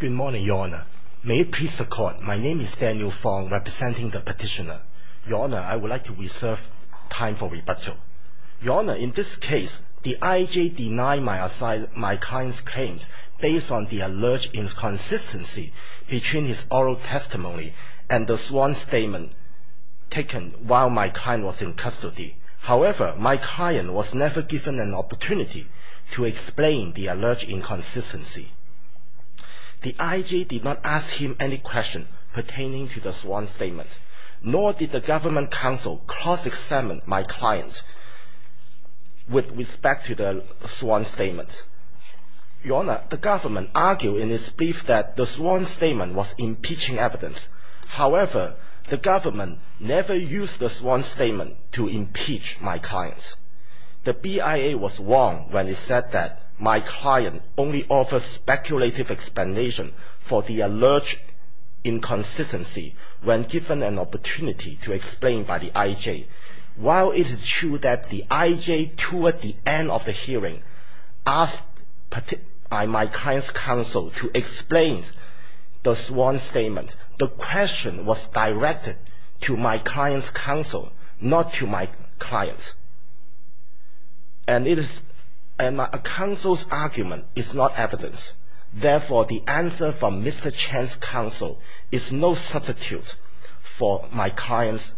Good morning, Your Honour. May it please the Court, my name is Daniel Fong, representing the Petitioner. Your Honour, I would like to reserve time for rebuttal. Your Honour, in this case, the IJ denied my client's claims based on the alleged inconsistency between his oral testimony and the sworn statement taken while my client was in custody. However, my client was never given an opportunity to explain the alleged inconsistency. The IJ did not ask him any questions pertaining to the sworn statement, nor did the Government Council cross-examine my client's with respect to the sworn statement. Your Honour, the Government argued in its brief that the sworn statement was impeaching evidence. However, the Government never used the sworn statement to impeach my client. The BIA was wrong when it said that my client only offers speculative explanation for the alleged inconsistency when given an opportunity to explain by the IJ. While it is true that the IJ, toward the end of the hearing, asked my client's counsel to explain the sworn statement, the question was directed to my client's counsel, not to my client. And my counsel's argument is not evidence. Therefore, the answer from Mr Chen's counsel is no substitute for my client's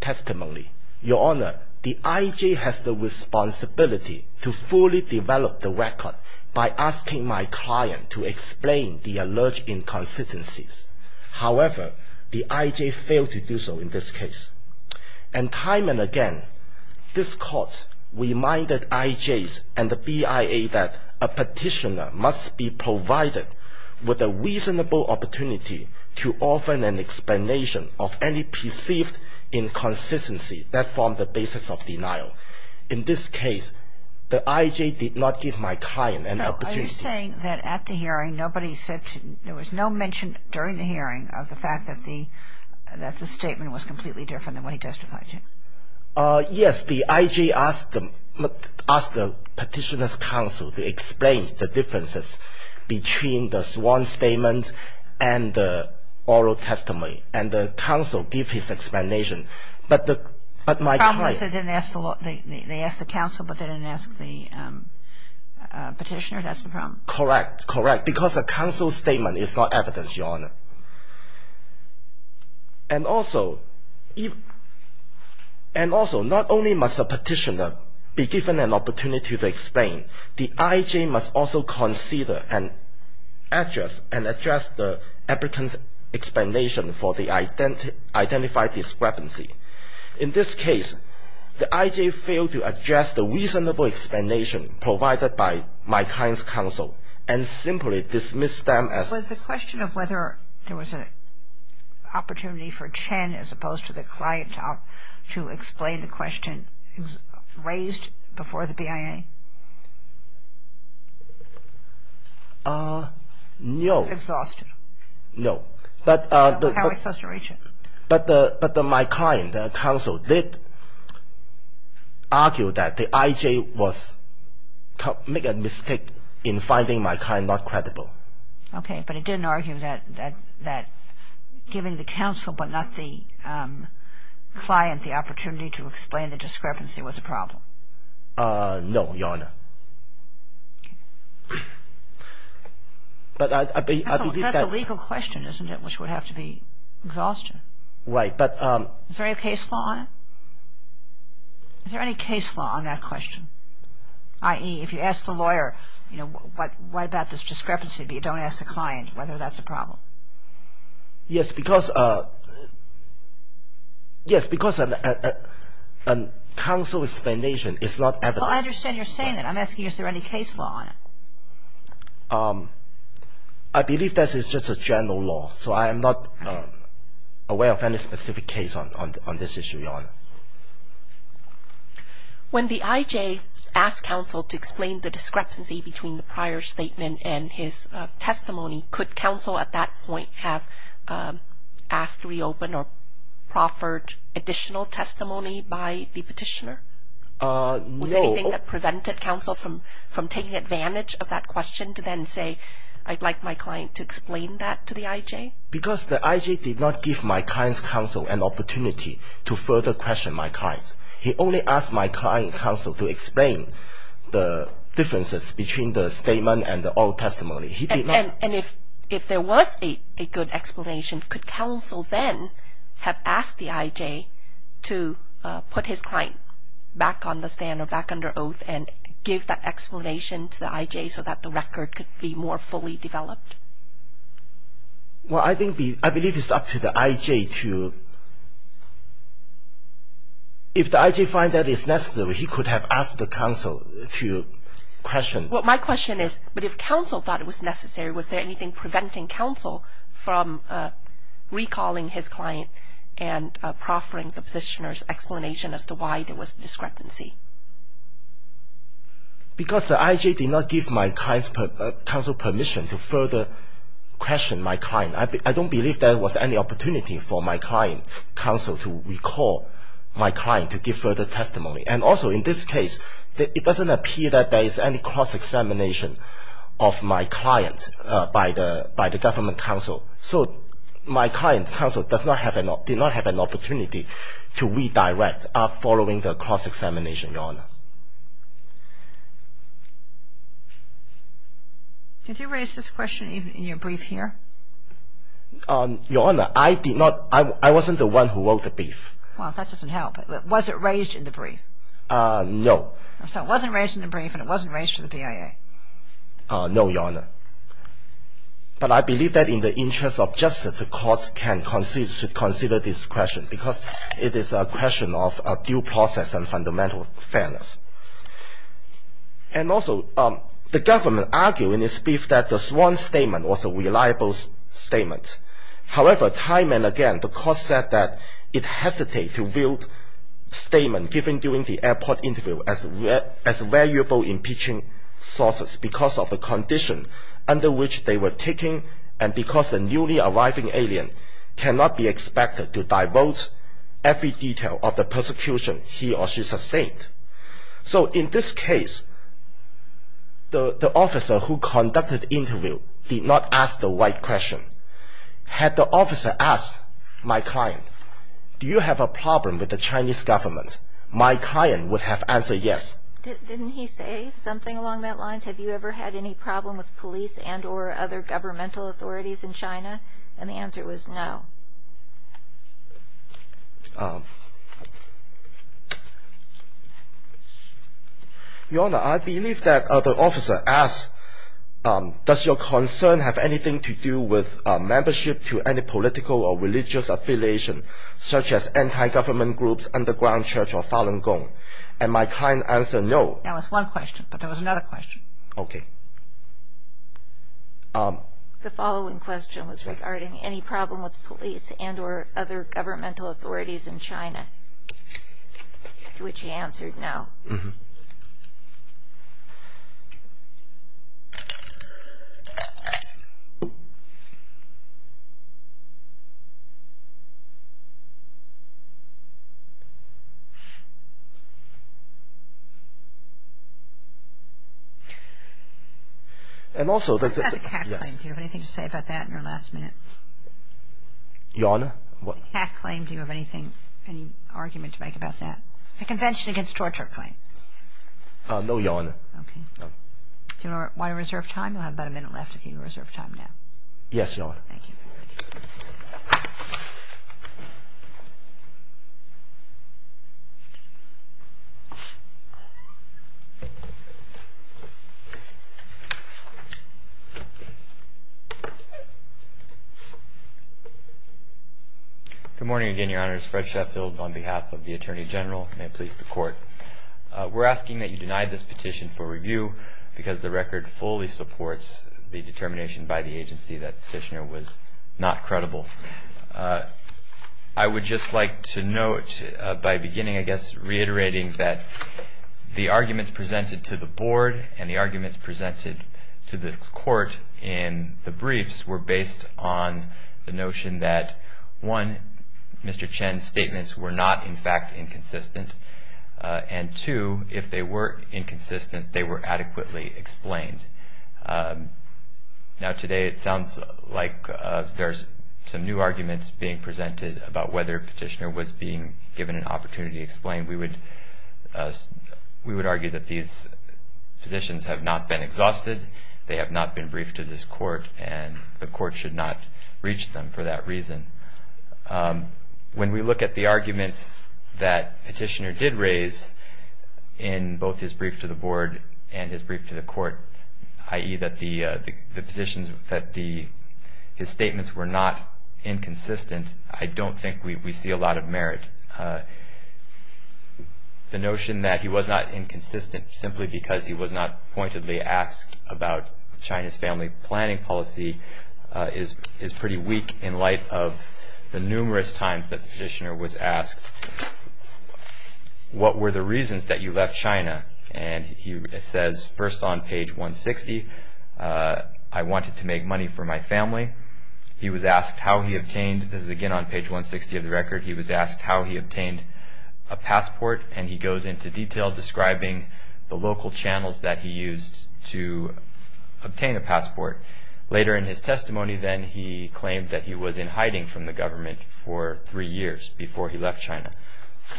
testimony. Your Honour, the IJ has the responsibility to fully develop the record by asking my client to explain the alleged inconsistencies. However, the IJ failed to do so in this case. And time and again, this Court reminded IJs and the BIA that a petitioner must be provided with a reasonable opportunity to offer an explanation of any perceived inconsistency that forms the basis of denial. In this case, the IJ did not give my client an opportunity. Are you saying that at the hearing, there was no mention during the hearing of the fact that the statement was completely different than what he testified to? Yes. The IJ asked the petitioner's counsel to explain the differences between the sworn statement and the oral testimony. And the counsel gave his explanation. The problem was they didn't ask the counsel, but they didn't ask the petitioner. That's the problem. Correct. Correct. Because a counsel statement is not evidence, Your Honour. And also, not only must a petitioner be given an opportunity to explain, the IJ must also consider and address the applicant's explanation for the identified discrepancy. In this case, the IJ failed to address the reasonable explanation provided by my client's counsel and simply dismissed them as... Was the question of whether there was an opportunity for Chen, as opposed to the client, to explain the question raised before the BIA? No. Exhausted. No. How are we supposed to reach him? But my client, the counsel, did argue that the IJ made a mistake in finding my client not credible. Okay. But it didn't argue that giving the counsel, but not the client, the opportunity to explain the discrepancy was a problem? No, Your Honour. Okay. But I believe that... Right, but... Is there any case law on it? Is there any case law on that question? I.e., if you ask the lawyer, you know, what about this discrepancy, but you don't ask the client whether that's a problem? Yes, because... Yes, because a counsel explanation is not evidence. Well, I understand you're saying that. I'm asking is there any case law on it? I believe that is just a general law, so I am not aware of any specific case on this issue, Your Honour. When the IJ asked counsel to explain the discrepancy between the prior statement and his testimony, could counsel at that point have asked to reopen or proffered additional testimony by the petitioner? No. Was there anything that prevented counsel from taking advantage of that question to then say, I'd like my client to explain that to the IJ? Because the IJ did not give my client's counsel an opportunity to further question my client. He only asked my client, counsel, to explain the differences between the statement and the oral testimony. And if there was a good explanation, could counsel then have asked the IJ to put his client back on the stand or back under oath and give that explanation to the IJ so that the record could be more fully developed? Well, I believe it's up to the IJ to... If the IJ finds that it's necessary, he could have asked the counsel to question... Well, my question is, but if counsel thought it was necessary, was there anything preventing counsel from recalling his client and proffering the petitioner's explanation as to why there was discrepancy? Because the IJ did not give my client's counsel permission to further question my client. I don't believe there was any opportunity for my client, counsel, to recall my client to give further testimony. And also in this case, it doesn't appear that there is any cross-examination of my client by the government counsel. So my client, counsel, did not have an opportunity to redirect following the cross-examination, Your Honor. Did you raise this question in your brief here? Your Honor, I did not. I wasn't the one who wrote the brief. Well, that doesn't help. Was it raised in the brief? No. So it wasn't raised in the brief and it wasn't raised to the BIA. No, Your Honor. But I believe that in the interest of justice, the courts can consider this question because it is a question of due process and fundamental fairness. And also, the government argued in its brief that this one statement was a reliable statement. However, time and again, the courts said that it hesitated to view statements given during the airport interview as valuable impeaching sources because of the condition under which they were taken and because the newly arriving alien cannot be expected to divulge every detail of the persecution he or she sustained. So in this case, the officer who conducted the interview did not ask the right question. Had the officer asked my client, do you have a problem with the Chinese government, my client would have answered yes. Didn't he say something along those lines? Have you ever had any problem with police and or other governmental authorities in China? And the answer was no. Your Honor, I believe that the officer asked, does your concern have anything to do with membership to any political or religious affiliation such as anti-government groups, underground church or Falun Gong? And my client answered no. That was one question, but there was another question. Okay. The following question was regarding any problem with police and or other governmental authorities in China, to which he answered no. Mm-hmm. And also, yes. What about the cat claim? Do you have anything to say about that in your last minute? Your Honor, what? The cat claim, do you have anything, any argument to make about that? The Convention Against Torture claim. No, Your Honor. Okay. Do you want to reserve time? You'll have about a minute left if you reserve time now. Yes, Your Honor. Thank you. Good morning again, Your Honor. It's Fred Sheffield on behalf of the Attorney General. May it please the Court. We're asking that you deny this petition for review because the record fully supports the determination by the agency that the petitioner was not credible. I would just like to note by beginning, I guess, reiterating that the arguments presented to the Board and the arguments presented to the Court in the briefs were based on the notion that, one, Mr. Chen's statements were not, in fact, inconsistent. And two, if they were inconsistent, they were adequately explained. Now today, it sounds like there's some new arguments being presented about whether a petitioner was being given an opportunity to explain. We would argue that these positions have not been exhausted. They have not been briefed to this Court. And the Court should not reach them for that reason. When we look at the arguments that the petitioner did raise in both his brief to the Board and his brief to the Court, i.e., that his statements were not inconsistent, I don't think we see a lot of merit. The notion that he was not inconsistent simply because he was not pointedly asked about China's family planning policy is pretty weak in light of the numerous times that the petitioner was asked, what were the reasons that you left China? And he says, first on page 160, I wanted to make money for my family. He was asked how he obtained, this is again on page 160 of the record, he was asked how he obtained a passport. And he goes into detail describing the local channels that he used to obtain a passport. Later in his testimony then, he claimed that he was in hiding from the government for three years before he left China.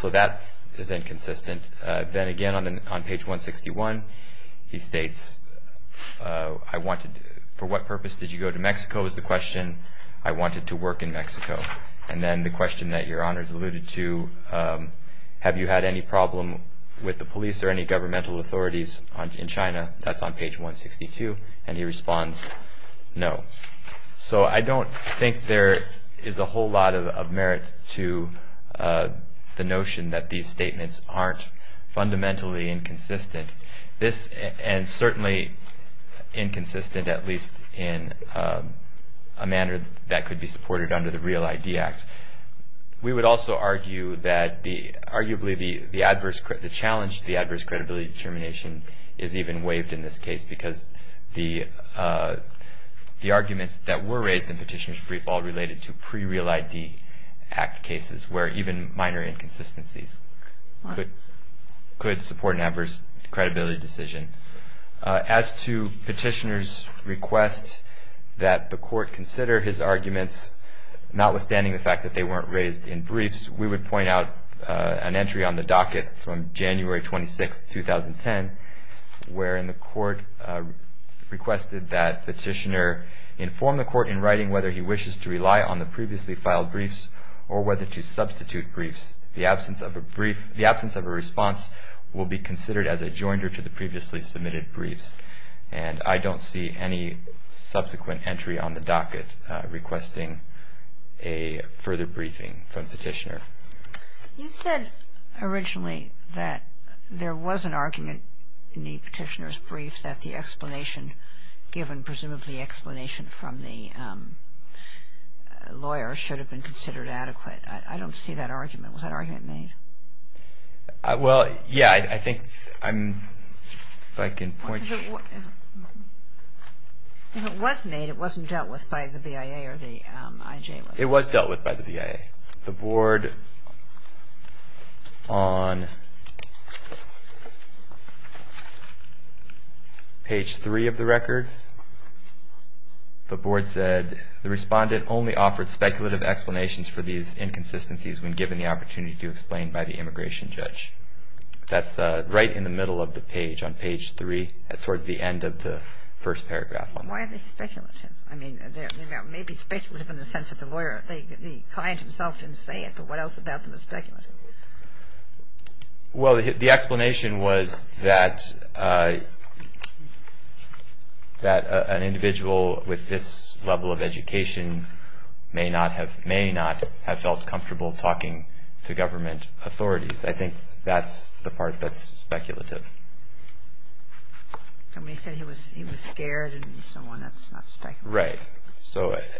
So that is inconsistent. Then again on page 161, he states, for what purpose did you go to Mexico, is the question. I wanted to work in Mexico. And then the question that Your Honors alluded to, have you had any problem with the police or any governmental authorities in China? That's on page 162. And he responds, no. So I don't think there is a whole lot of merit to the notion that these statements aren't fundamentally inconsistent. And certainly inconsistent at least in a manner that could be supported under the Real ID Act. We would also argue that arguably the challenge to the adverse credibility determination is even waived in this case because the arguments that were raised in Petitioner's Brief all related to pre-Real ID Act cases where even minor inconsistencies could support an adverse credibility decision. As to Petitioner's request that the court consider his arguments, notwithstanding the fact that they weren't raised in briefs, we would point out an entry on the docket from January 26, 2010, wherein the court requested that Petitioner inform the court in writing whether he wishes to rely on the previously filed briefs or whether to substitute briefs. The absence of a response will be considered as a joinder to the previously submitted briefs. And I don't see any subsequent entry on the docket requesting a further briefing from Petitioner. You said originally that there was an argument in the Petitioner's Brief that the explanation given, presumably explanation from the lawyer, should have been considered adequate. I don't see that argument. Was that argument made? Well, yeah, I think I'm... If I can point... If it was made, it wasn't dealt with by the BIA or the IJ? It was dealt with by the BIA. The board, on page 3 of the record, the board said the respondent only offered speculative explanations for these inconsistencies when given the opportunity to explain by the immigration judge. That's right in the middle of the page, on page 3, towards the end of the first paragraph. Why are they speculative? I mean, they may be speculative in the sense that the client himself didn't say it, but what else about them is speculative? Well, the explanation was that an individual with this level of education may not have felt comfortable talking to government authorities. I think that's the part that's speculative. Somebody said he was scared and someone that's not speculative. Right.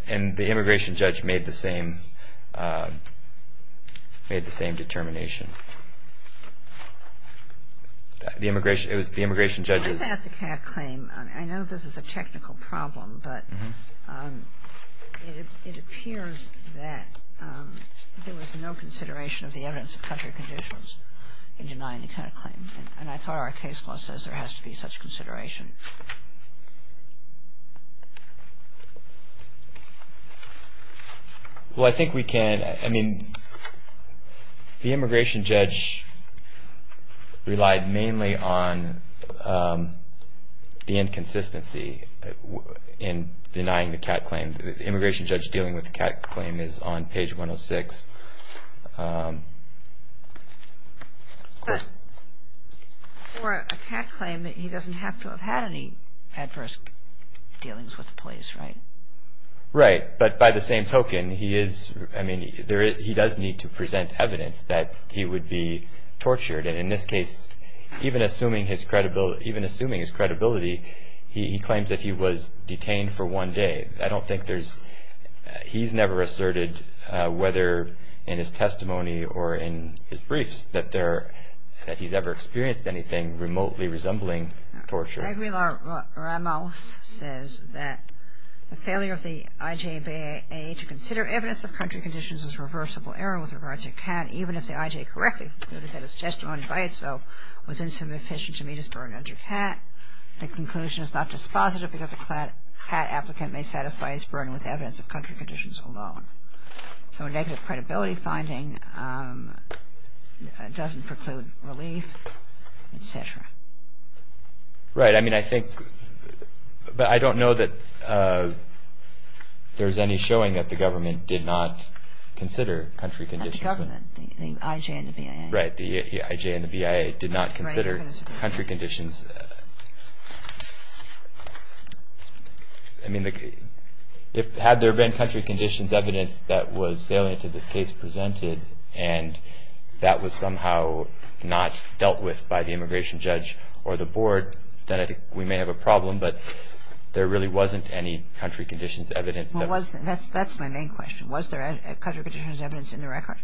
And the immigration judge made the same determination. The immigration judge... I know this is a technical problem, but it appears that there was no consideration of the evidence of country conditions in denying the CAD claim, and I thought our case law says there has to be such consideration. Well, I think we can. I mean, the immigration judge relied mainly on the inconsistency in denying the CAD claim. The immigration judge dealing with the CAD claim is on page 106. But for a CAD claim, he doesn't have to have had any adverse dealings with the police, right? Right. But by the same token, he does need to present evidence that he would be tortured. And in this case, even assuming his credibility, he claims that he was detained for one day. I don't think there's... He's never asserted, whether in his testimony or in his briefs, that he's ever experienced anything remotely resembling torture. Aguilar Ramos says that the failure of the IJBA to consider evidence of country conditions as reversible error with regards to CAD, even if the IJ correctly concluded that its testimony by itself was insufficient to meet its burden under CAD, the conclusion is not dispositive because a CAD applicant may satisfy his burden with evidence of country conditions alone. So a negative credibility finding doesn't preclude relief, etc. Right. I mean, I think... But I don't know that there's any showing that the government did not consider country conditions. Not the government. The IJ and the BIA. Right. The IJ and the BIA did not consider country conditions. I mean, had there been country conditions evidence that was salient to this case presented and that was somehow not dealt with by the immigration judge or the board, then I think we may have a problem. But there really wasn't any country conditions evidence that was... Well, that's my main question. Was there country conditions evidence in the record?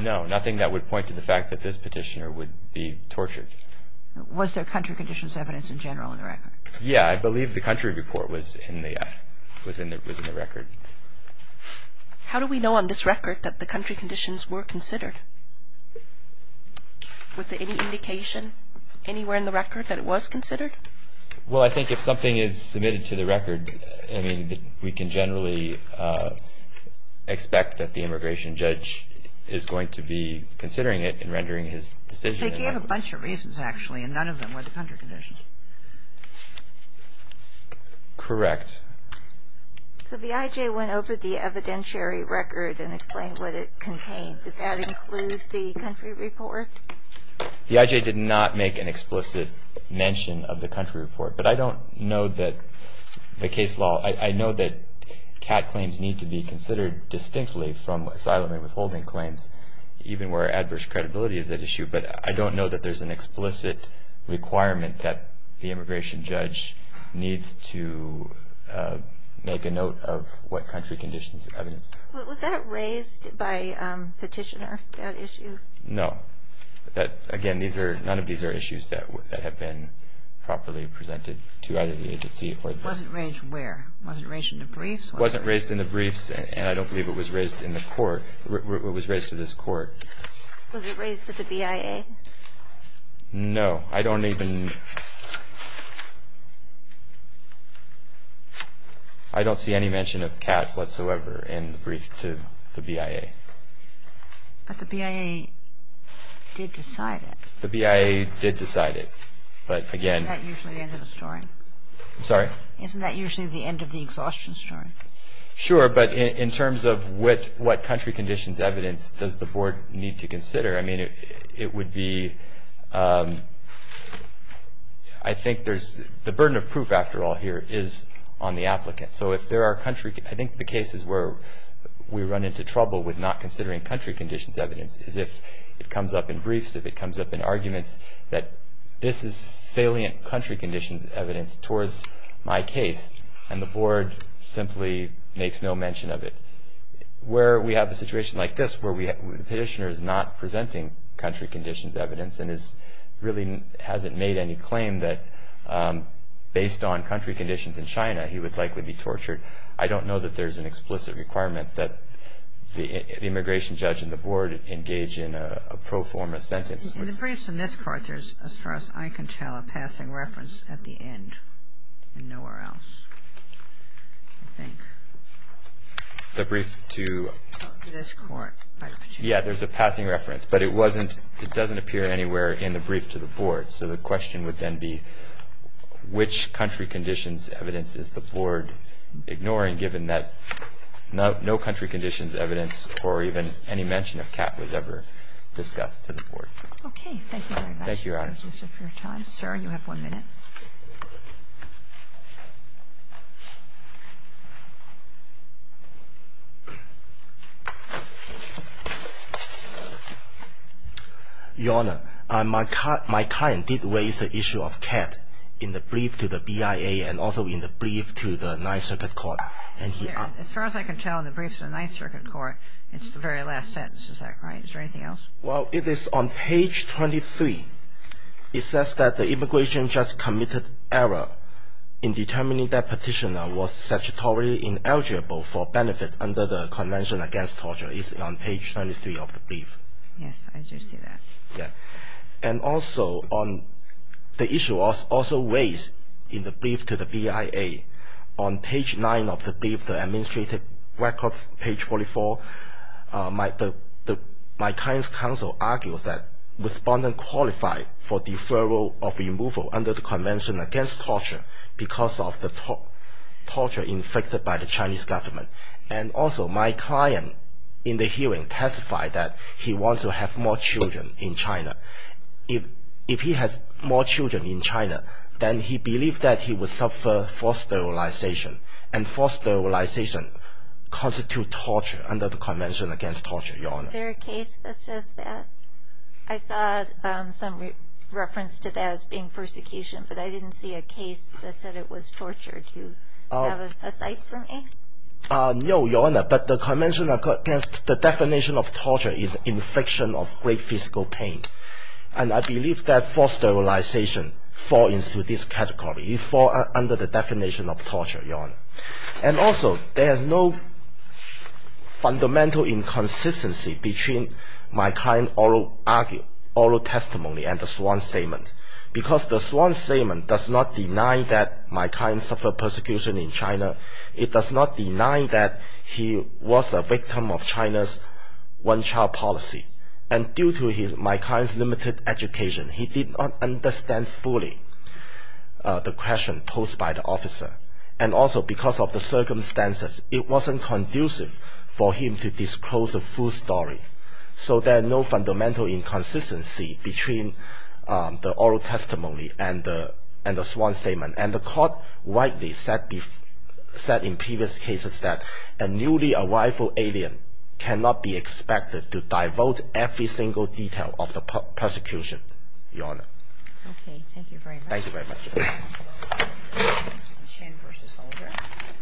No. Nothing that would point to the fact that this petitioner would be tortured. Was there country conditions evidence in general in the record? Yeah. I believe the country report was in the record. How do we know on this record that the country conditions were considered? Was there any indication anywhere in the record that it was considered? Well, I think if something is submitted to the record, I mean, we can generally expect that the immigration judge is going to be considering it and rendering his decision... They gave a bunch of reasons, actually, and none of them were the country conditions. Correct. So the IJ went over the evidentiary record and explained what it contained. Did that include the country report? The IJ did not make an explicit mention of the country report. But I don't know that the case law... I know that CAT claims need to be considered distinctly from asylum and withholding claims, even where adverse credibility is at issue. But I don't know that there's an explicit requirement that the immigration judge needs to make a note of what country conditions evidence... Was that raised by Petitioner, that issue? No. Again, none of these are issues that have been properly presented to either the agency or... Wasn't raised where? Wasn't raised in the briefs? Wasn't raised in the briefs, and I don't believe it was raised in the court. It was raised to this court. Was it raised to the BIA? No. I don't even... I don't see any mention of CAT whatsoever in the brief to the BIA. But the BIA did decide it. The BIA did decide it, but again... Isn't that usually the end of the story? I'm sorry? Isn't that usually the end of the exhaustion story? Sure, but in terms of what country conditions evidence does the board need to consider, I mean, it would be... I think there's... The burden of proof, after all, here is on the applicant. So if there are country... I think the cases where we run into trouble with not considering country conditions evidence is if it comes up in briefs, if it comes up in arguments that this is salient country conditions evidence towards my case, and the board simply makes no mention of it. Where we have a situation like this, where the petitioner is not presenting country conditions evidence and really hasn't made any claim that based on country conditions in China, he would likely be tortured, I don't know that there's an explicit requirement that the immigration judge and the board engage in a pro forma sentence. In the briefs in this court, there's, as far as I can tell, a passing reference at the end and nowhere else, I think. The brief to... This court. Yeah, there's a passing reference, but it doesn't appear anywhere in the brief to the board. So the question would then be, which country conditions evidence is the board ignoring given that no country conditions evidence or even any mention of cat was ever discussed to the board. Okay, thank you very much. Thank you, Your Honor. Thank you for your time. Sir, you have one minute. Your Honor, my client did raise the issue of cat in the brief to the BIA and also in the brief to the Ninth Circuit Court. As far as I can tell, in the brief to the Ninth Circuit Court, it's the very last sentence, is that right? Is there anything else? Well, it is on page 23. It says that the immigration judge committed error in determining that petitioner was statutory in error eligible for benefit under the Convention Against Torture. It's on page 23 of the brief. Yes, I do see that. Yeah. And also, the issue was also raised in the brief to the BIA. On page 9 of the brief, the administrative record, page 44, my client's counsel argues that respondent qualified for deferral of removal under the Convention Against Torture because of the torture inflicted by the Chinese government. And also, my client in the hearing testified that he wants to have more children in China. If he has more children in China, then he believed that he would suffer forced sterilization, and forced sterilization constitutes torture under the Convention Against Torture, Your Honor. Is there a case that says that? I saw some reference to that as being persecution, but I didn't see a case that said it was torture. Do you have a cite for me? No, Your Honor, but the Convention Against the definition of torture is infliction of great physical pain. And I believe that forced sterilization falls into this category. It falls under the definition of torture, Your Honor. And also, there is no fundamental inconsistency between my client's oral testimony and the sworn statement because the sworn statement does not deny that my client suffered persecution in China. It does not deny that he was a victim of China's one-child policy. And due to my client's limited education, he did not understand fully the question posed by the officer. And also, because of the circumstances, it wasn't conducive for him to disclose the full story. So there is no fundamental inconsistency between the oral testimony and the sworn statement. And the court rightly said in previous cases that a newly-arrival alien cannot be expected to divulge every single detail of the persecution, Your Honor. Okay, thank you very much. Thank you very much.